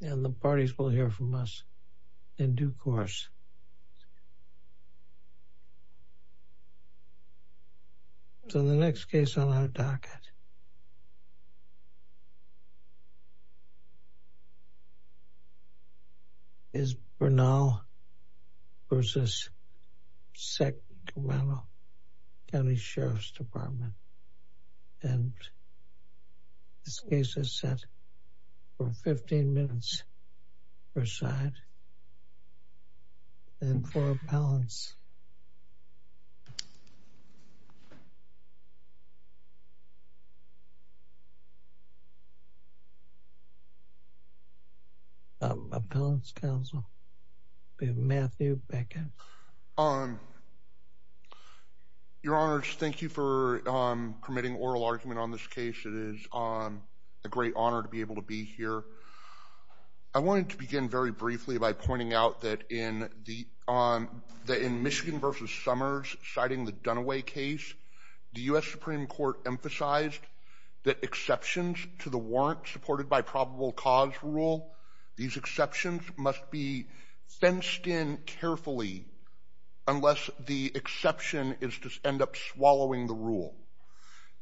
and the parties will hear from us in due course. So the next case on our docket is Bernal v. Sacramento County Sheriff's Department and this case is set for 15 minutes per side and for appellants. Appellants counsel, Matthew Beckett. Your Honors, thank you for permitting oral argument on this case. It is a great honor to be able to be here. I wanted to begin very briefly by pointing out that in Michigan v. Summers, citing the Dunaway case, the U.S. Supreme Court emphasized that exceptions to the unless the exception is to end up swallowing the rule.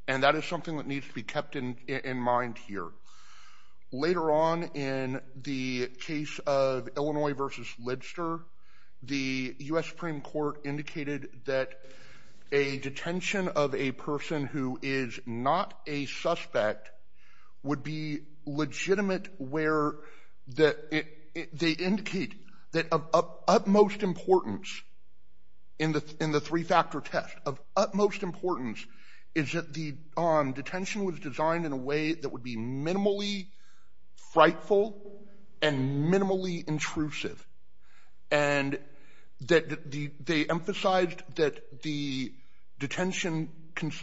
And that is something that needs to be kept in mind here. Later on in the case of Illinois v. Lidster, the U.S. Supreme Court indicated that a detention of a person who is not a suspect would be legitimate where that it they indicate that of utmost importance in the in the three-factor test of utmost importance is that the on detention was designed in a way that would be minimally frightful and minimally intrusive and that the they emphasized that the detention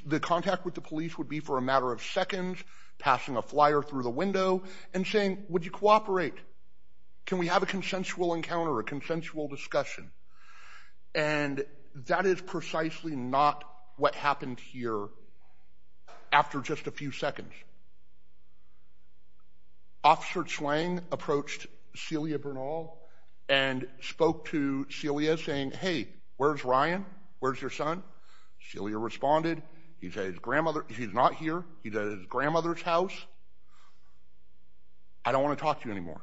the contact with the police would be for a matter of seconds passing a flyer through the window and saying, would you cooperate? Can we have a consensual encounter, a consensual discussion? And that is precisely not what happened here after just a few seconds. Officer Chuang approached Celia Bernal and spoke to Celia saying, hey, where's Ryan? Where's your son? Celia responded, he's at his grandmother. He's not here. He's at his I don't want to talk to you anymore.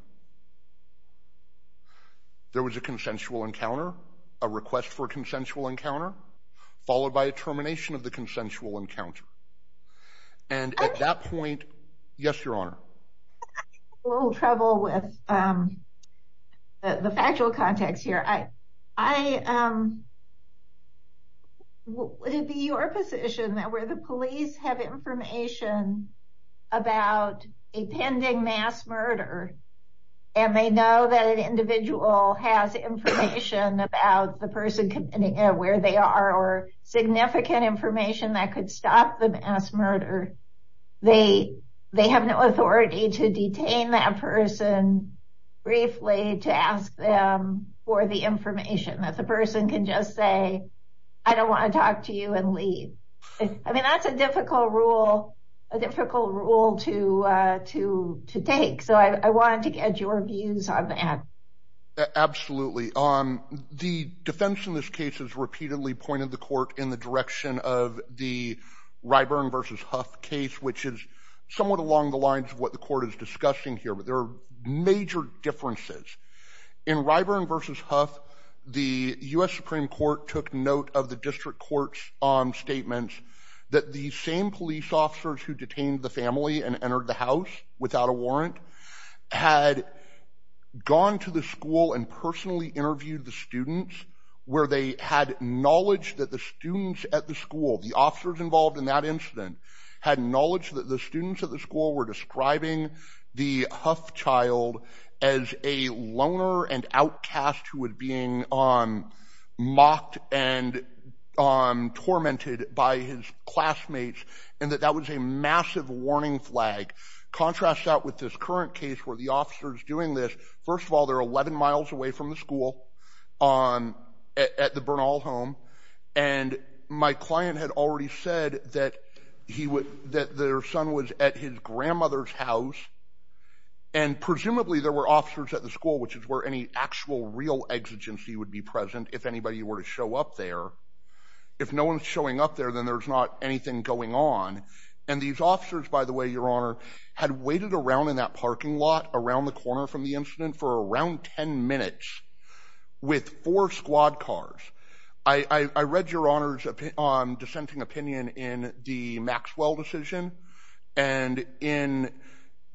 There was a consensual encounter, a request for a consensual encounter, followed by a termination of the consensual encounter. And at that point, yes, your honor. A little trouble with the factual context here. I would it be your position that where the police have information about a pending mass murder and they know that an individual has information about the person where they are or significant information that could stop the mass murder, they have no authority to detain that person briefly to ask them for the information that person can just say, I don't want to talk to you and leave. I mean, that's a difficult rule, a difficult rule to take. So I wanted to get your views on that. Absolutely. The defense in this case has repeatedly pointed the court in the direction of the Ryburn versus Huff case, which is somewhat along the lines of what the court is discussing here. But there are major differences in Ryburn versus Huff. The U.S. Supreme Court took note of the district courts on statements that the same police officers who detained the family and entered the house without a warrant had gone to the school and personally interviewed the students where they had knowledge that the students at the school, the officers involved in that incident, had knowledge that the students at the school were describing the Huff child as a loner and outcast who was being mocked and tormented by his classmates and that that was a massive warning flag. Contrast that with this current case where the officer is doing this. First of all, they're 11 miles away from the school at the Bernal home. And my client had already said that their son was at his grandmother's house. And presumably there were officers at the school, which is where any actual real exigency would be present if anybody were to show up there. If no one's showing up there, then there's not anything going on. And these officers, by the way, your honor, had waited around in that parking lot around the corner from the incident for around 10 minutes with four squad cars. I read your honor's dissenting opinion in the Maxwell decision. And in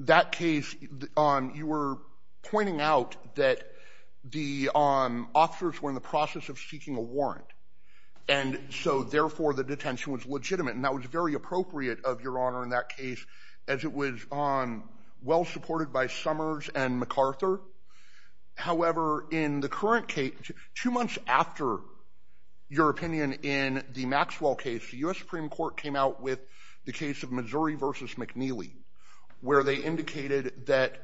that case, you were pointing out that the officers were in the process of seeking a warrant. And so therefore the detention was legitimate. And that was very appropriate of your honor in that case, as it was well supported by Summers and MacArthur. However, in the current case, two months after your opinion in the Maxwell case, the U.S. Supreme Court came out with the case of Missouri versus McNeely, where they indicated that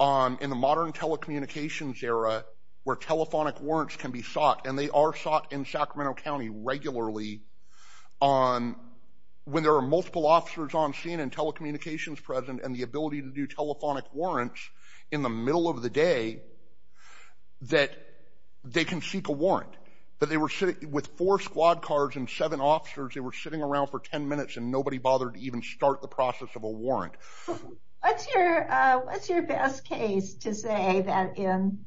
in the modern telecommunications era where telephonic warrants can be sought, and they are sought in Sacramento County regularly, on when there are multiple officers on scene and telecommunications present, and the ability to do telephonic warrants in the middle of the day, that they can seek a warrant. But they were sitting with four squad cars and seven officers. They were sitting around for 10 minutes, and nobody bothered to even start the process of a warrant. What's your best case to say that in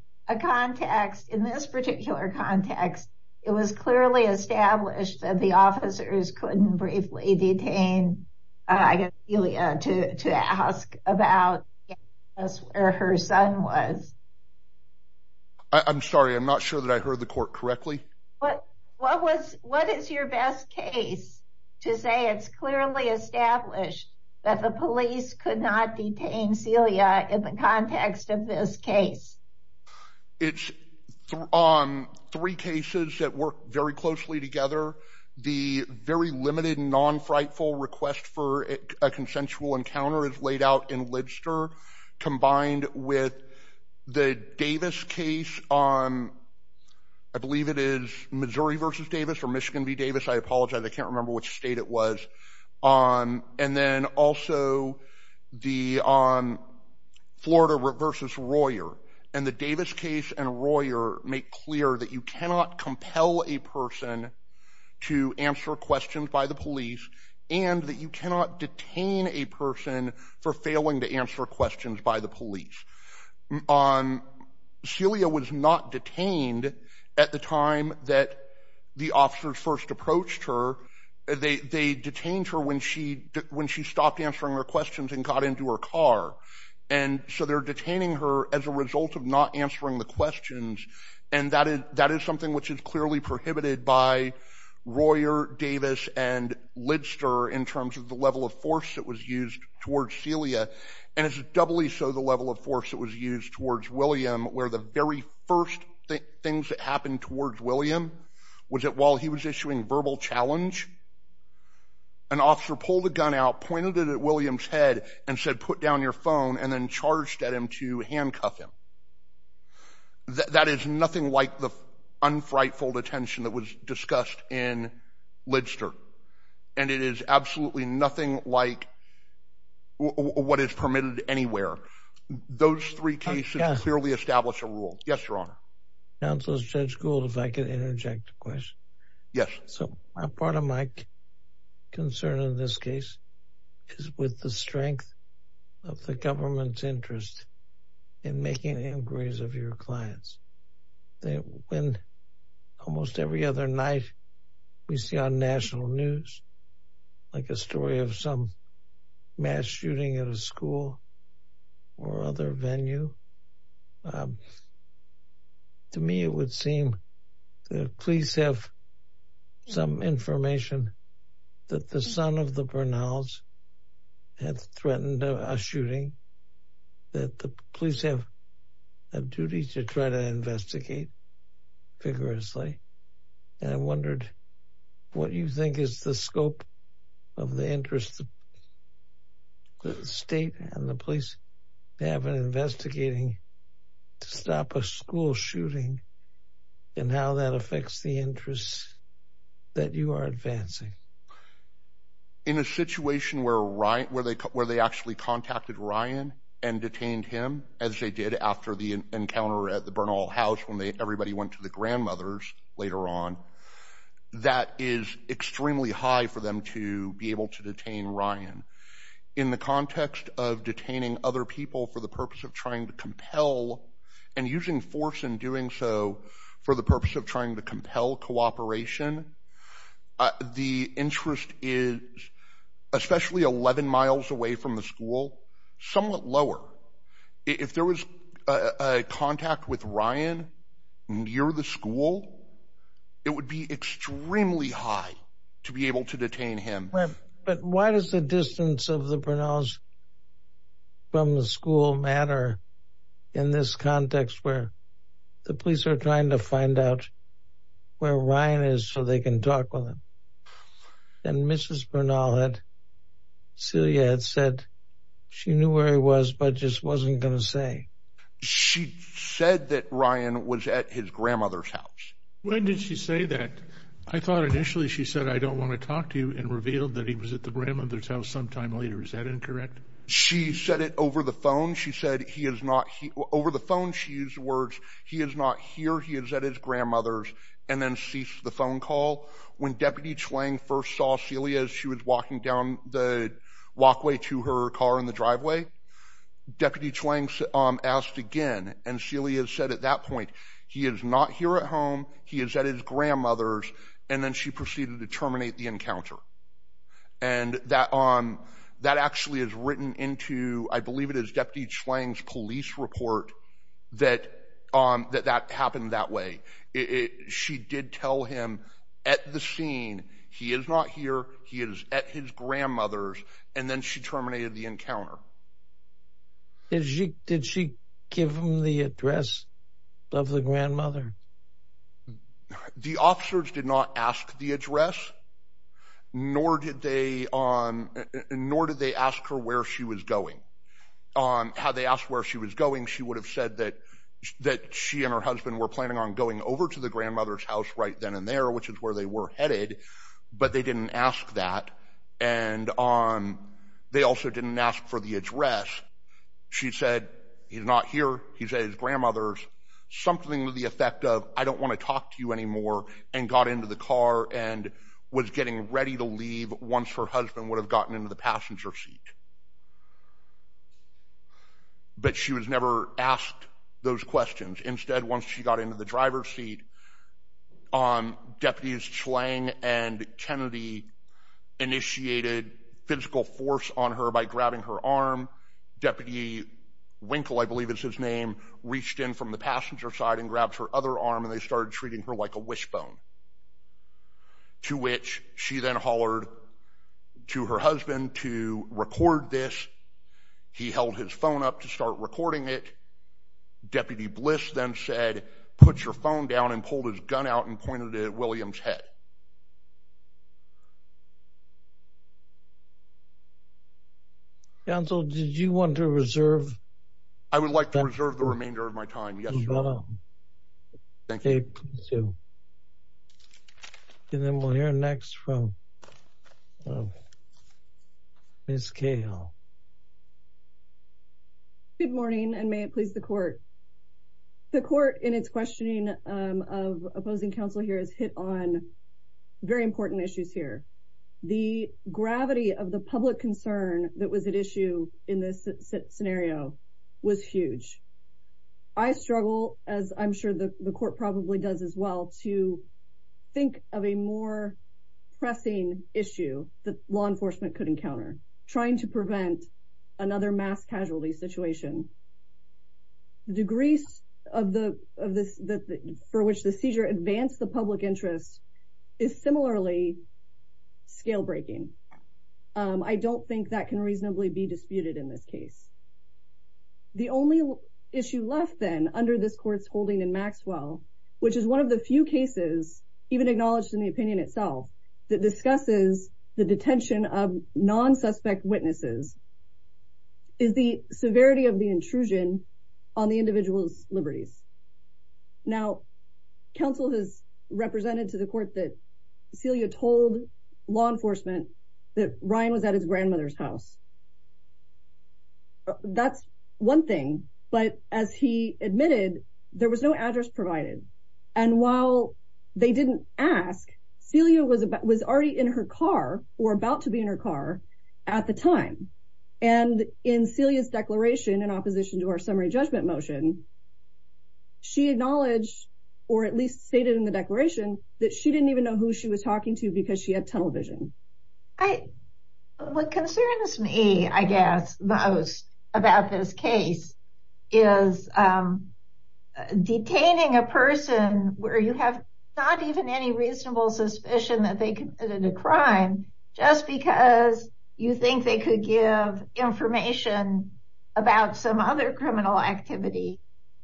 this particular context, it was clearly established that the officers couldn't briefly detain Celia to ask about where her son was? I'm sorry, I'm not sure that I heard the court correctly. What is your best case to say it's clearly established that the police could not detain Celia in the context of this case? It's on three cases that work very closely together. The very limited and non-frightful request for a consensual encounter is laid out in Lidster, combined with the Davis case on, I believe it is Missouri versus Davis or Michigan v. Davis, I apologize, I can't remember which state it was. And then also the Florida versus Royer. And the Davis case and Royer make clear that you cannot compel a person to answer questions by the police, and that you cannot detain a person for failing to answer questions by the police. Celia was not detained at the time that the officers first approached her. They detained her when she stopped answering her questions and got into her car. And so they're detaining her as a result of not answering the questions, and that is something which is clearly prohibited by Royer, Davis, and Lidster in terms of the level of force that was used towards Celia. And it's so the level of force that was used towards William where the very first things that happened towards William was that while he was issuing verbal challenge, an officer pulled a gun out, pointed it at William's head, and said put down your phone, and then charged at him to handcuff him. That is nothing like the unfrightful detention that was Those three cases clearly establish a rule. Yes, Your Honor. Counselor Judge Gould, if I could interject a question. Yes. So part of my concern in this case is with the strength of the government's interest in making inquiries of your clients. When almost every other night we see on national news, like a story of some shooting at a school or other venue, to me it would seem that police have some information that the son of the Bernhals had threatened a shooting, that the police have a duty to try to the state and the police. They have been investigating to stop a school shooting and how that affects the interests that you are advancing. In a situation where they actually contacted Ryan and detained him, as they did after the encounter at the Bernhal house when everybody went to the grandmother's later on, that is the context of detaining other people for the purpose of trying to compel and using force in doing so for the purpose of trying to compel cooperation. The interest is, especially 11 miles away from the school, somewhat lower. If there was a contact with Ryan near the school, it would be extremely high to be able to detain him. But why does the distance of the Bernhals from the school matter in this context where the police are trying to find out where Ryan is so they can talk with him? And Mrs. Bernhal had, Celia had said she knew where he was but just wasn't going to say. She said that Ryan was at his grandmother's house. When did she say that? I thought initially she said I don't want to talk to you and revealed that he was at the grandmother's house sometime later. Is that incorrect? She said it over the phone. She said he is not, over the phone she used words, he is not here, he is at his grandmother's and then ceased the phone call. When Deputy Chuang first saw Celia as she was walking down the walkway to her car in the driveway, Deputy Chuang asked again and Celia said at that point he is not here at home, he is at his grandmother's and then she proceeded to terminate the encounter. And that actually is written into, I believe it is Deputy Chuang's police report that that happened that way. She did tell him at the scene he is not here, he is at his grandmother's and then she terminated the encounter. Did she give him the address of the grandmother? The officers did not ask the address nor did they ask her where she was going. Had they asked where she was going she would have said that she and her husband were planning on going over to the grandmother's house right then and there which is where they were headed but they didn't ask that and they also didn't ask for the address. She said he is not here, he is at his grandmother's. Something to the effect of I don't want to talk to you anymore and got into the car and was getting ready to leave once her husband would have gotten into the passenger seat. But she was never asked those questions. Instead once she got into the driver's seat, Deputies Chuang and Kennedy initiated physical force on her by grabbing her arm. Deputy Winkle, I believe is his name, reached in from the passenger side and grabbed her other arm and they started treating her like a wishbone. To which she then hollered to her husband to record this. He held his phone up to start recording it. Deputy Bliss then said put your phone down and pulled his gun out and pointed it at William's head. Counsel, did you want to reserve? I would like to reserve the remainder of my time. And then we'll hear next from Ms. Cahill. Good morning and may it please the court. The court in its questioning of opposing counsel here has hit on very important issues here. The gravity of the public concern that was at issue in this scenario was huge. I struggle, as I'm sure the court probably does as well, to think of a pressing issue that law enforcement could encounter. Trying to prevent another mass casualty situation. Degrees for which the seizure advanced the public interest is similarly scale-breaking. I don't think that can reasonably be disputed in this case. The only issue left then under this court's holding in Maxwell, which is one of the few even acknowledged in the opinion itself, that discusses the detention of non-suspect witnesses, is the severity of the intrusion on the individual's liberties. Now, counsel has represented to the court that Celia told law enforcement that Ryan was at his grandmother's home. That's one thing. But as he admitted, there was no address provided. And while they didn't ask, Celia was already in her car or about to be in her car at the time. And in Celia's declaration in opposition to our summary judgment motion, she acknowledged, or at least stated in the declaration, that she didn't even know who she was talking to because she had tunnel vision. What concerns me, I guess, most about this case is detaining a person where you have not even any reasonable suspicion that they committed a crime just because you think they could give information about some other criminal activity.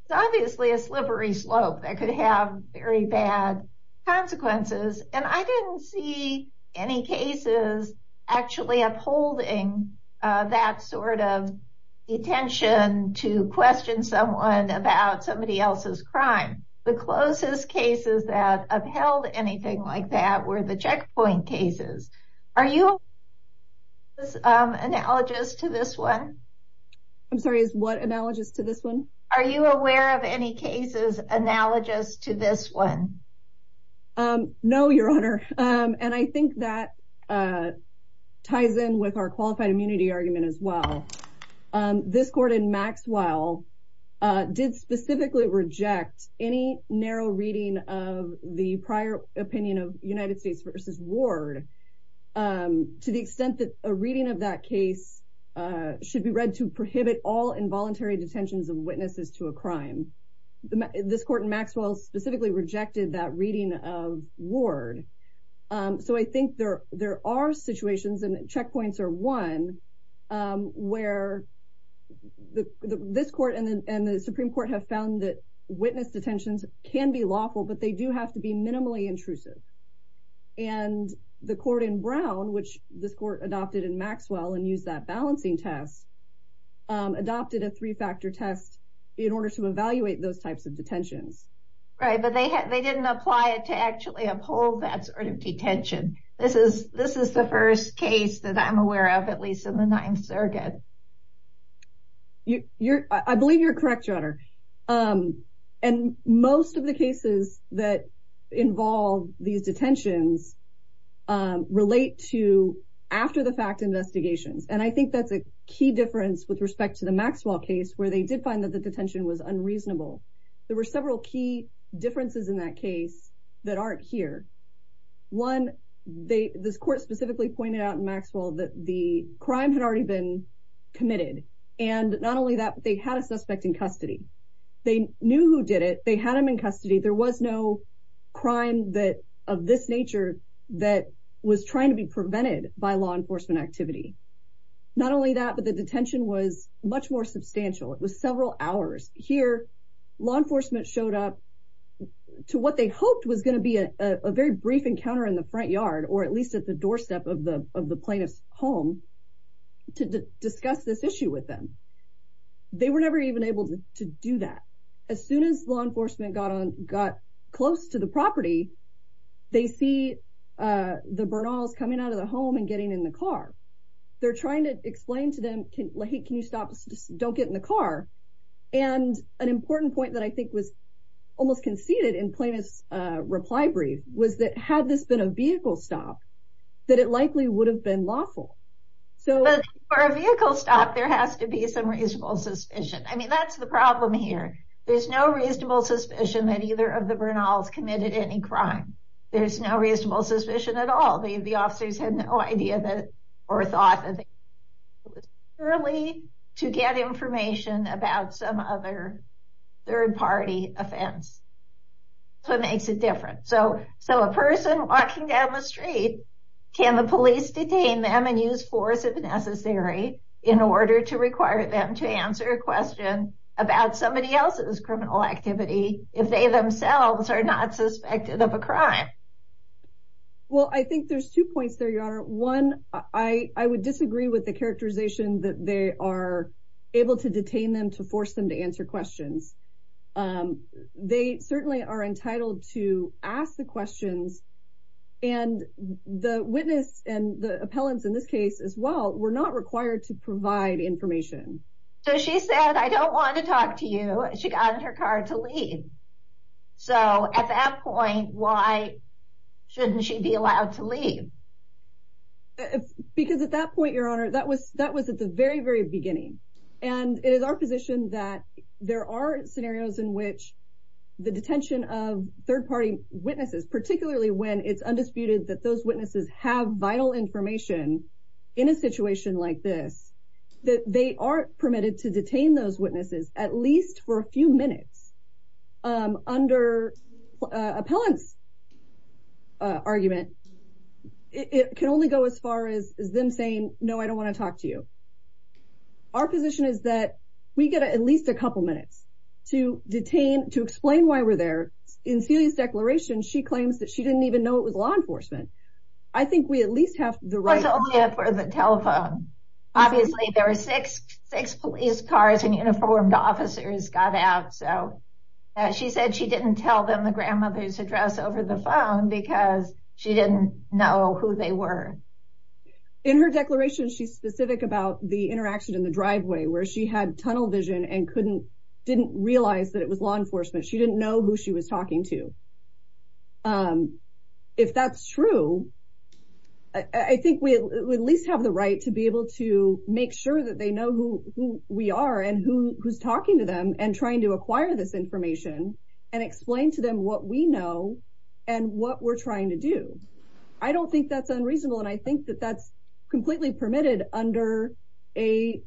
It's obviously a slippery slope that could have very bad consequences. And I didn't see any cases actually upholding that sort of detention to question someone about somebody else's crime. The closest cases that upheld anything like that were the checkpoint cases. Are you analogous to this one? I'm sorry, is what analogous to this one? Are you aware of any cases analogous to this one? No, Your Honor. And I think that ties in with our qualified immunity argument as well. This court in Maxwell did specifically reject any narrow reading of the prior opinion of United States Supreme Court. And I think that that case should be read to prohibit all involuntary detentions of witnesses to a crime. This court in Maxwell specifically rejected that reading of Ward. So I think there are situations, and checkpoints are one, where this court and the Supreme Court have found that witness detentions can be lawful, but they do have to be minimally intrusive. And the court in Brown, which this court adopted in Maxwell and used that balancing test, adopted a three-factor test in order to evaluate those types of detentions. Right, but they didn't apply it to actually uphold that sort of detention. This is the first case that I'm aware of, at least in the Ninth Circuit. I believe you're correct, Your Honor. And most of the cases that involve these detentions relate to after-the-fact investigations. And I think that's a key difference with respect to the Maxwell case, where they did find that the detention was unreasonable. There were several key differences in that case that aren't here. One, this court specifically pointed out in Maxwell that the crime had already been committed. And not only that, but they had a suspect in custody. They knew who did it. They had him in custody. There was no crime of this nature that was trying to be prevented by law enforcement activity. Not only that, but the detention was much more substantial. It was several hours. Here, law enforcement showed up to what they hoped was going to be a very brief encounter in the front yard, or at least at the doorstep of the plaintiff's home, to discuss this issue with them. They were never even able to do that. As soon as law enforcement got close to the property, they see the Bernals coming out of the home and getting in the car. They're trying to explain to them, can you stop? Just don't get in the car. And an important point that I think was almost conceded in Plaintiff's reply brief was that had this been a vehicle stop, that it likely would have been lawful. But for a vehicle stop, there has to be some reasonable suspicion. I mean, that's the problem here. There's no reasonable suspicion that either of the Bernals committed any crime. There's no reasonable suspicion at all. The officers had no idea that or thought that it was purely to get information about some other third-party offense. That's what makes it so difficult. I think there's two points there, Your Honor. One, I would disagree with the characterization that they are able to detain them to force them to answer questions. They certainly are entitled to ask the questions. And the witness and the appellants in this case as well were not required to provide information. So she said, I don't want to talk to you. She got in her car to leave. So at that point, why shouldn't she be allowed to leave? Because at that point, Your Honor, that was at the very, very beginning. And it is our position that there are scenarios in which the detention of third-party witnesses, particularly when it's undisputed that those witnesses have vital information in a situation like this, that they are permitted to detain those witnesses at least for a few minutes. Under appellants' argument, it can only go as far as them saying, no, I don't want to talk to you. Our position is that we get at least a couple minutes to detain, to explain why we're there. In Celia's declaration, she claims that she didn't even know it was law enforcement. I think we at least have the right- It was only for the telephone. Obviously, there were six police cars and uniformed officers got out. So she said she didn't tell them the grandmother's address over the phone because she didn't know who they were. In her declaration, she's specific about the interaction in the driveway where she had tunnel vision and didn't realize that it was law enforcement. She didn't know who she was talking to. If that's true, I think we at least have the right to be able to make sure that they know who we are and who's talking to them and trying to acquire this information and explain to them what we know and what we're trying to do. I don't think that's unreasonable. And I think that that's completely permitted under a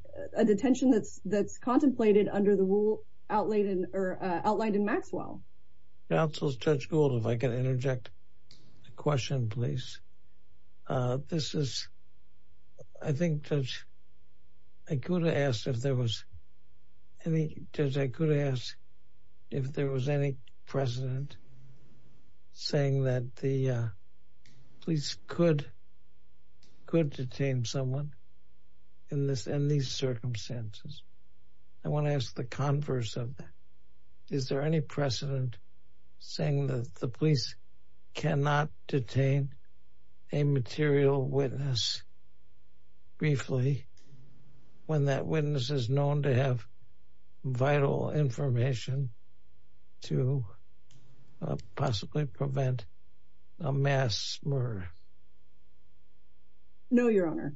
detention that's contemplated under the rule outlined in Maxwell. Counsel Judge Gould, if I can interject a question, please. This is, I think, Judge, I could have asked if there was any, Judge, I could ask if there was any precedent saying that police could detain someone in these circumstances. I want to ask the converse of that. Is there any precedent saying that the police cannot detain a material witness briefly when that witness is known to have vital information to possibly prevent a mass murder? No, Your Honor.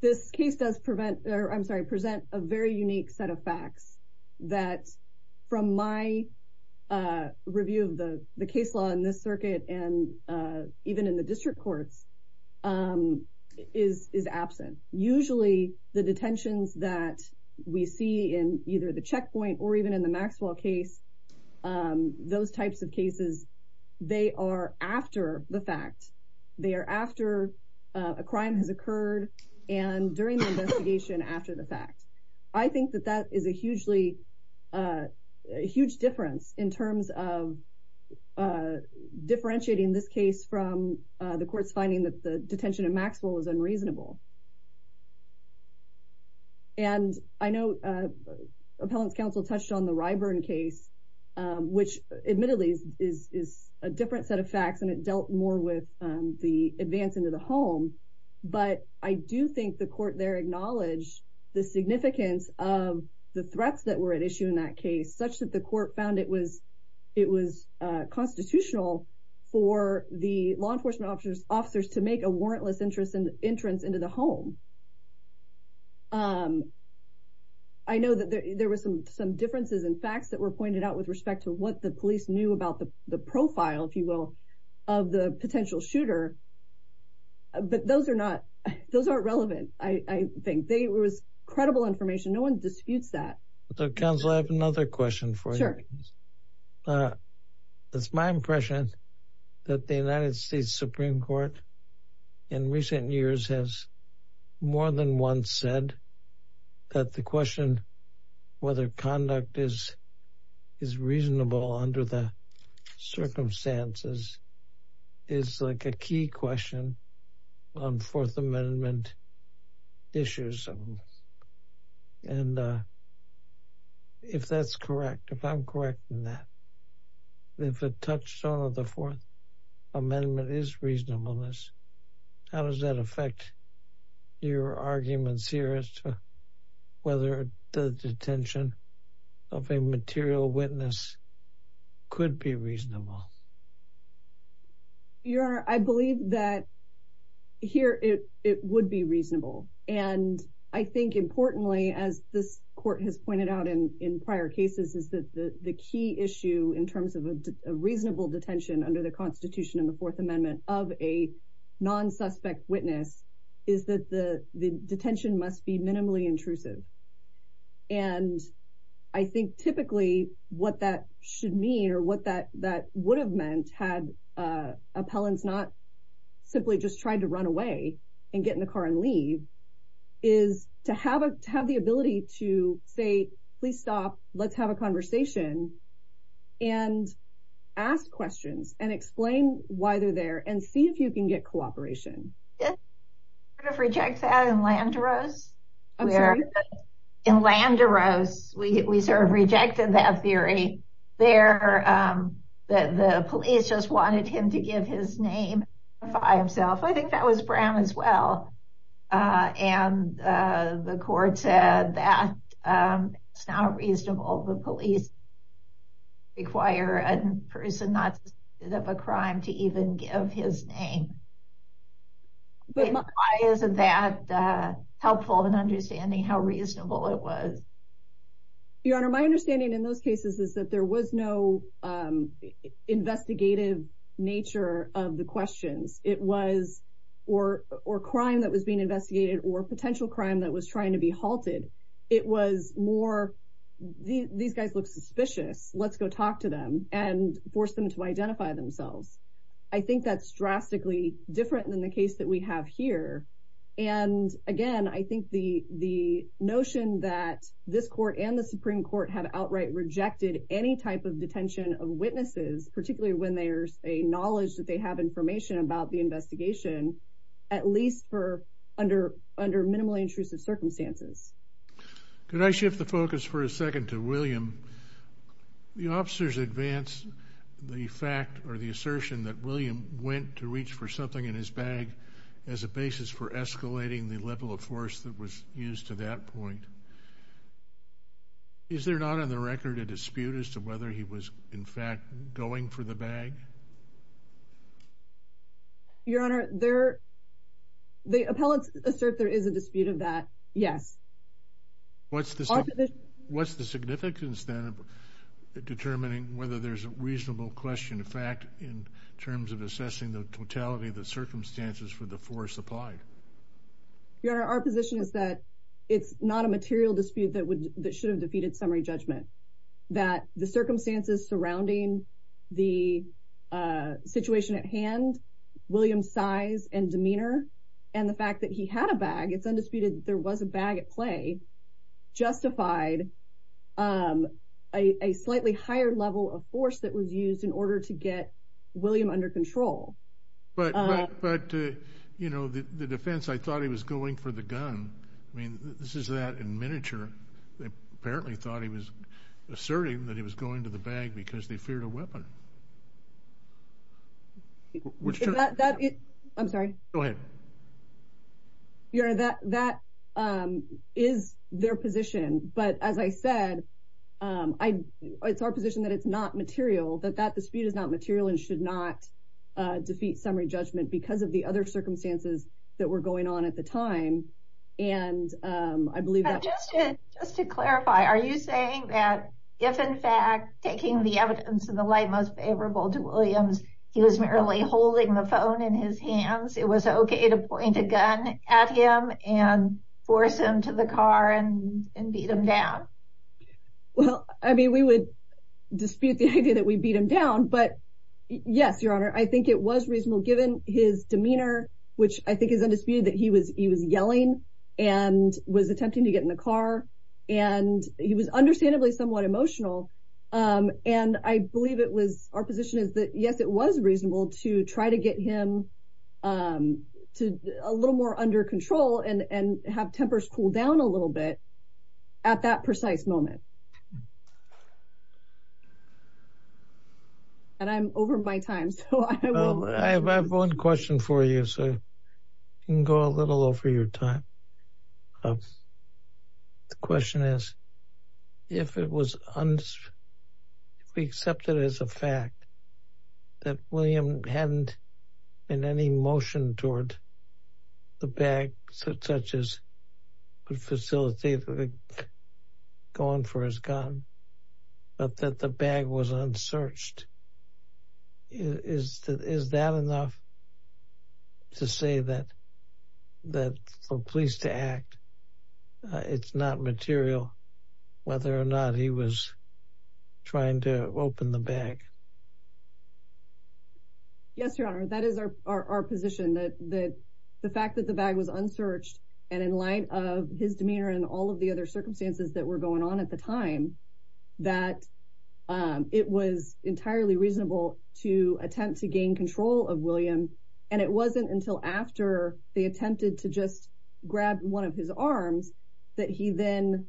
This case does prevent, I'm sorry, present a very unique set of facts that from my review of the case law in this circuit and even in the district courts is absent. Usually the detentions that we see in either the checkpoint or even in the Maxwell case, those types of cases, they are after the fact. They are after a crime has occurred and during the investigation after the fact. I think that that is a hugely, a huge difference in terms of differentiating this case from the court's finding that the detention of Maxwell is unreasonable. And I know appellant's counsel touched on the Ryburn case, which admittedly is a different set of facts and it dealt more with the advance into the home. But I do think the court there acknowledged the significance of the threats that were at issue in that case, such that the court found it was constitutional for the law enforcement officers to make a entrance into the home. I know that there were some differences in facts that were pointed out with respect to what the police knew about the profile, if you will, of the potential shooter. But those are not, those aren't relevant. I think they were credible information. No one disputes that. Counsel, I have another question for you. Sure. It's my impression that the United States Supreme Court in recent years has more than once said that the question whether conduct is reasonable under the circumstances is like a key question on fourth amendment issues. And if that's correct, if I'm correct in that, if a touchstone of the fourth amendment is reasonableness, how does that affect your arguments here as to whether the detention of a material witness could be reasonable? Your honor, I believe that here it would be reasonable. And I think importantly, as this court has pointed out in prior cases, is that the key issue in terms of a reasonable detention under the constitution in the fourth amendment of a non-suspect witness is that the detention must be minimally intrusive. And I think typically what that should mean or what that would have meant had appellants not simply just tried to run away and get in the car and leave is to have a, to have the ability to say, please stop. Let's have a conversation and ask questions and explain why they're there and see if you can get cooperation. I sort of reject that in Landeros. In Landeros, we sort of rejected that theory. There, the police just wanted him to give his name by himself. I think that was Brown as well. And the court said that it's not reasonable. The police require a person not suspected of a crime to even give his name. Why isn't that helpful in understanding how reasonable it was? Your honor, my understanding in those cases is that there was no investigative nature of the questions it was, or, or crime that was being investigated or potential crime that was trying to be halted. It was more, these guys look suspicious. Let's go talk to them and force them to identify themselves. I think that's drastically different than the case that we have here. And again, I think the, the notion that this court and the Supreme court have outright rejected any type of detention of witnesses, particularly when there's a knowledge that they have information about the investigation, at least for under, under minimally intrusive circumstances. Could I shift the focus for a second to William? The officers advanced the fact or the assertion that William went to reach for something in his bag as a basis for escalating the level of force that was used to that point. Is there not on the record a dispute as to whether he was in fact going for the bag? Your honor there, the appellate assert, there is a dispute of that. Yes. What's the, what's the significance then of determining whether there's a reasonable question of fact in terms of assessing the totality of the circumstances for the force applied? Your honor, our position is that it's not a material dispute that would, that should have defeated summary judgment, that the circumstances surrounding the situation at hand, William's size and demeanor, and the fact that he had a bag, it's undisputed that there was a bag at play, justified a, a slightly higher level of force that was used in order to get William under control. But, but you know, the defense, I thought he was going for the gun. I mean, this is that in miniature, they apparently thought he was asserting that he was going to the bag because they feared a weapon. I'm sorry. Go ahead. Your honor, that, that is their position. But as I said, I, it's our position that it's not material, that that dispute is not material and should not defeat summary judgment because of the other circumstances that were going on at the time. And I believe that. Just to clarify, are you saying that if in fact taking the evidence and the light most favorable to Williams, he was merely holding the phone in his hands, it was okay to point a gun at him and force him to the car and beat him down? Well, I mean, we would dispute the idea that we beat him down, but yes, your honor, I think it was reasonable given his demeanor, which I think is undisputed that he was, he was yelling and was attempting to get in the car and he was understandably somewhat emotional. And I believe it was our position is that yes, it was reasonable to try to get him to a little more under control and, and have tempers cool down a little bit at that precise moment. And I'm over my time. So I have one question for you. So you can go a little over your time. The question is if it was, if we accept it as a fact that William hadn't in any motion toward the bag, such as facilitate going for his gun, but that the bag was unsearched. Is that, is that enough to say that, that for police to act, it's not material whether or not he was trying to open the bag? Yes, your honor. That is our, our, our position that, that the fact that the bag was unsearched and in light of his demeanor and all of the other circumstances that were going on at the time, that it was entirely reasonable to attempt to gain control of William. And it wasn't until after they attempted to just grab one of his arms that he then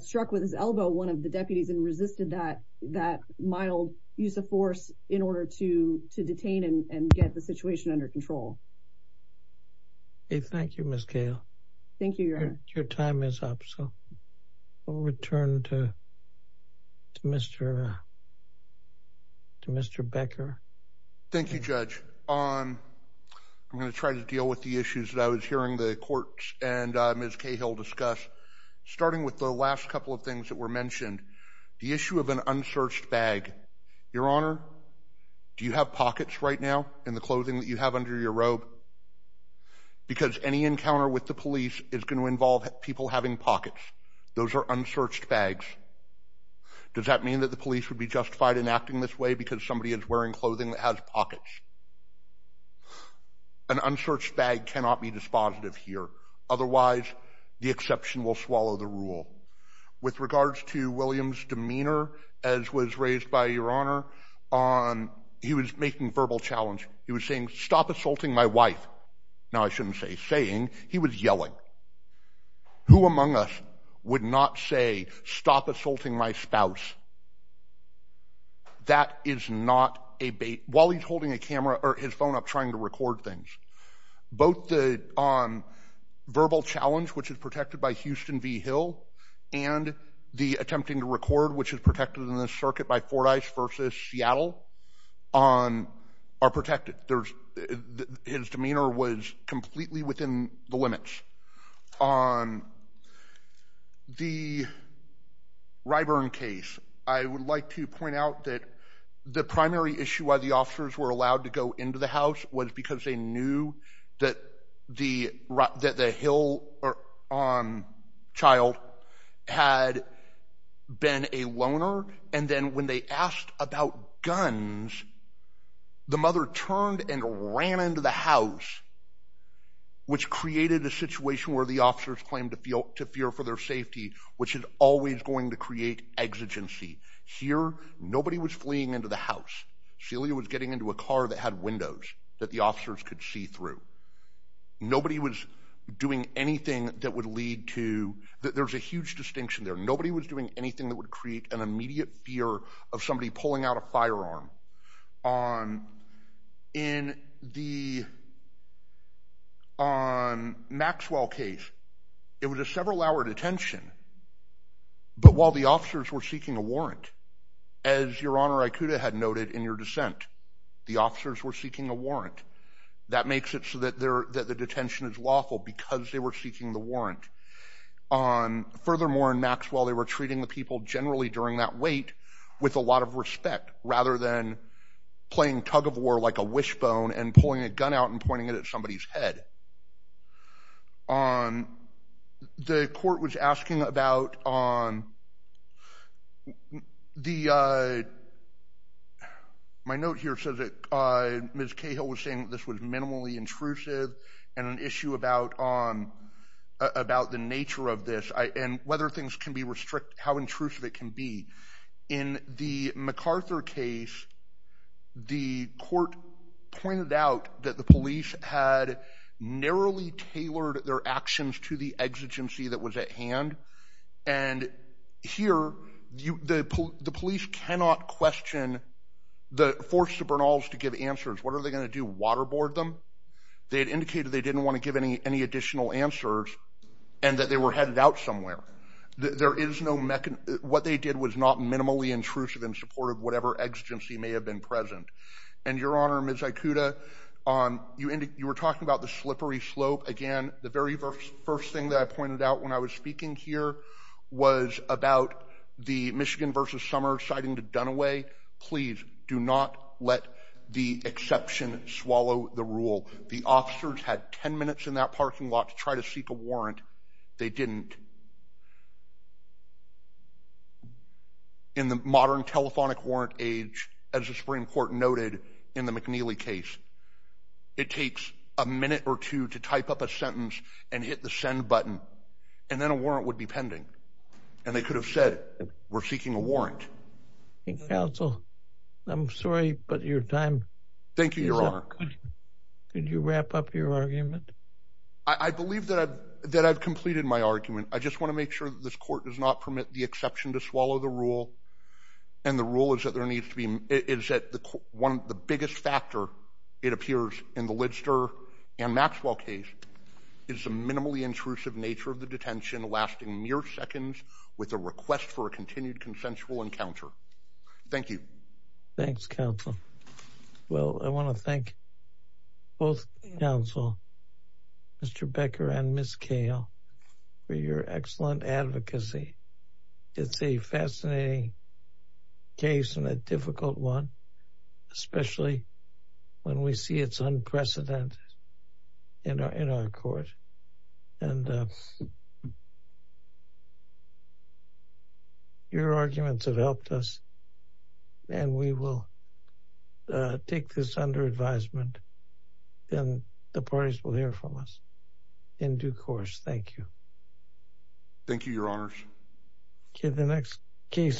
struck with his elbow, one of the deputies and resisted that, that mild use of force in order to, to detain and get the situation under control. Thank you, Ms. Cahill. Thank you, your honor. Your time is up. So we'll return to Mr. To Mr. Becker. Thank you, judge. I'm going to try to deal with the issues that I was hearing the courts and Ms. Cahill discuss starting with the last couple of things that were mentioned. The issue of an unsearched bag, your honor, do you have pockets right now in the clothing that you have under your robe? Because any encounter with the police is going to involve people having pockets. Those are unsearched bags. Does that mean that the police would be justified in acting this way because somebody is wearing clothing that has pockets? An unsearched bag cannot be dispositive here. Otherwise, the exception will swallow the rule. With regards to William's demeanor, as was raised by your honor on, he was making verbal challenge. He was saying, stop assaulting my wife. Now I shouldn't say saying he was yelling who among us would not say stop assaulting my spouse. That is not a bait while he's holding a camera or his phone up trying to record things. Both the verbal challenge, which is protected by Houston v. Hill, and the attempting to record, which is protected in this circuit by Fordyce versus Seattle, are protected. His demeanor was completely within the limits. On the Ryburn case, I would like to point out that the primary issue why the officers were allowed to go into the house was because they knew that the Hill child had been a loner. And then when they asked about guns, the mother turned and ran into the house, which created a situation where the officers claimed to fear for their safety, which is always going to create exigency. Here, nobody was fleeing into the house. Celia was getting into a car that had windows that the officers could see through. Nobody was doing anything that would lead to, there's a huge distinction there, nobody was doing anything that would create an immediate fear of somebody pulling out a firearm. On the Maxwell case, it was a several-hour detention, but while the officers were seeking a warrant, as Your Honor Icuda had noted in your dissent, the officers were seeking a warrant. That makes it so that the detention is lawful because they were seeking the warrant. Furthermore, in Maxwell, they were treating the people generally during that wait with a lot of respect, rather than playing tug-of-war like a wishbone and pulling a gun out and pointing it at somebody's head. The court was asking about, my note here says that Ms. Cahill was saying this was minimally intrusive and an issue about the nature of this and whether things can be restricted, how intrusive it can be. In the MacArthur case, the court pointed out that the police had narrowly tailored their actions to the exigency that was at hand, and here the police cannot question, force the Bernals to give answers. What are they going to do, waterboard them? They had indicated they didn't want to give any additional answers and that they were headed out somewhere. What they did was not minimally intrusive in support of whatever exigency may have been present. Your Honor, Ms. Icuda, you were talking about the slippery slope. Again, the very first thing that I pointed out when I was speaking here was about the Michigan v. Summers citing the Dunaway. Please do not let the exception swallow the rule. The officers had 10 minutes in that parking lot to try to seek a warrant. They didn't. In the modern telephonic warrant age, as the Supreme Court noted in the McNeely case, it takes a minute or two to type up a sentence and hit the send button, and then a warrant would be pending. They could have said, we're seeking a warrant. Counsel, I'm sorry, but your time is up. Thank you, Your Honor. Could you wrap up your argument? I believe that I've completed my argument. I just want to make sure that this court does not permit the exception to swallow the rule. The rule is that the biggest factor, it appears in the Lidster and Maxwell case, is the minimally intrusive nature of the detention lasting mere seconds with a request for a continued consensual encounter. Thank you. Thanks, counsel. Well, I want to thank both counsel, Mr. Becker and Ms. Kahle, for your excellent advocacy. It's a fascinating case and a difficult one, especially when we see it's unprecedented in our court. Your arguments have helped us and we will take this under advisement and the parties will hear from us in due course. Thank you. Thank you, Your Honors. Okay, the next case.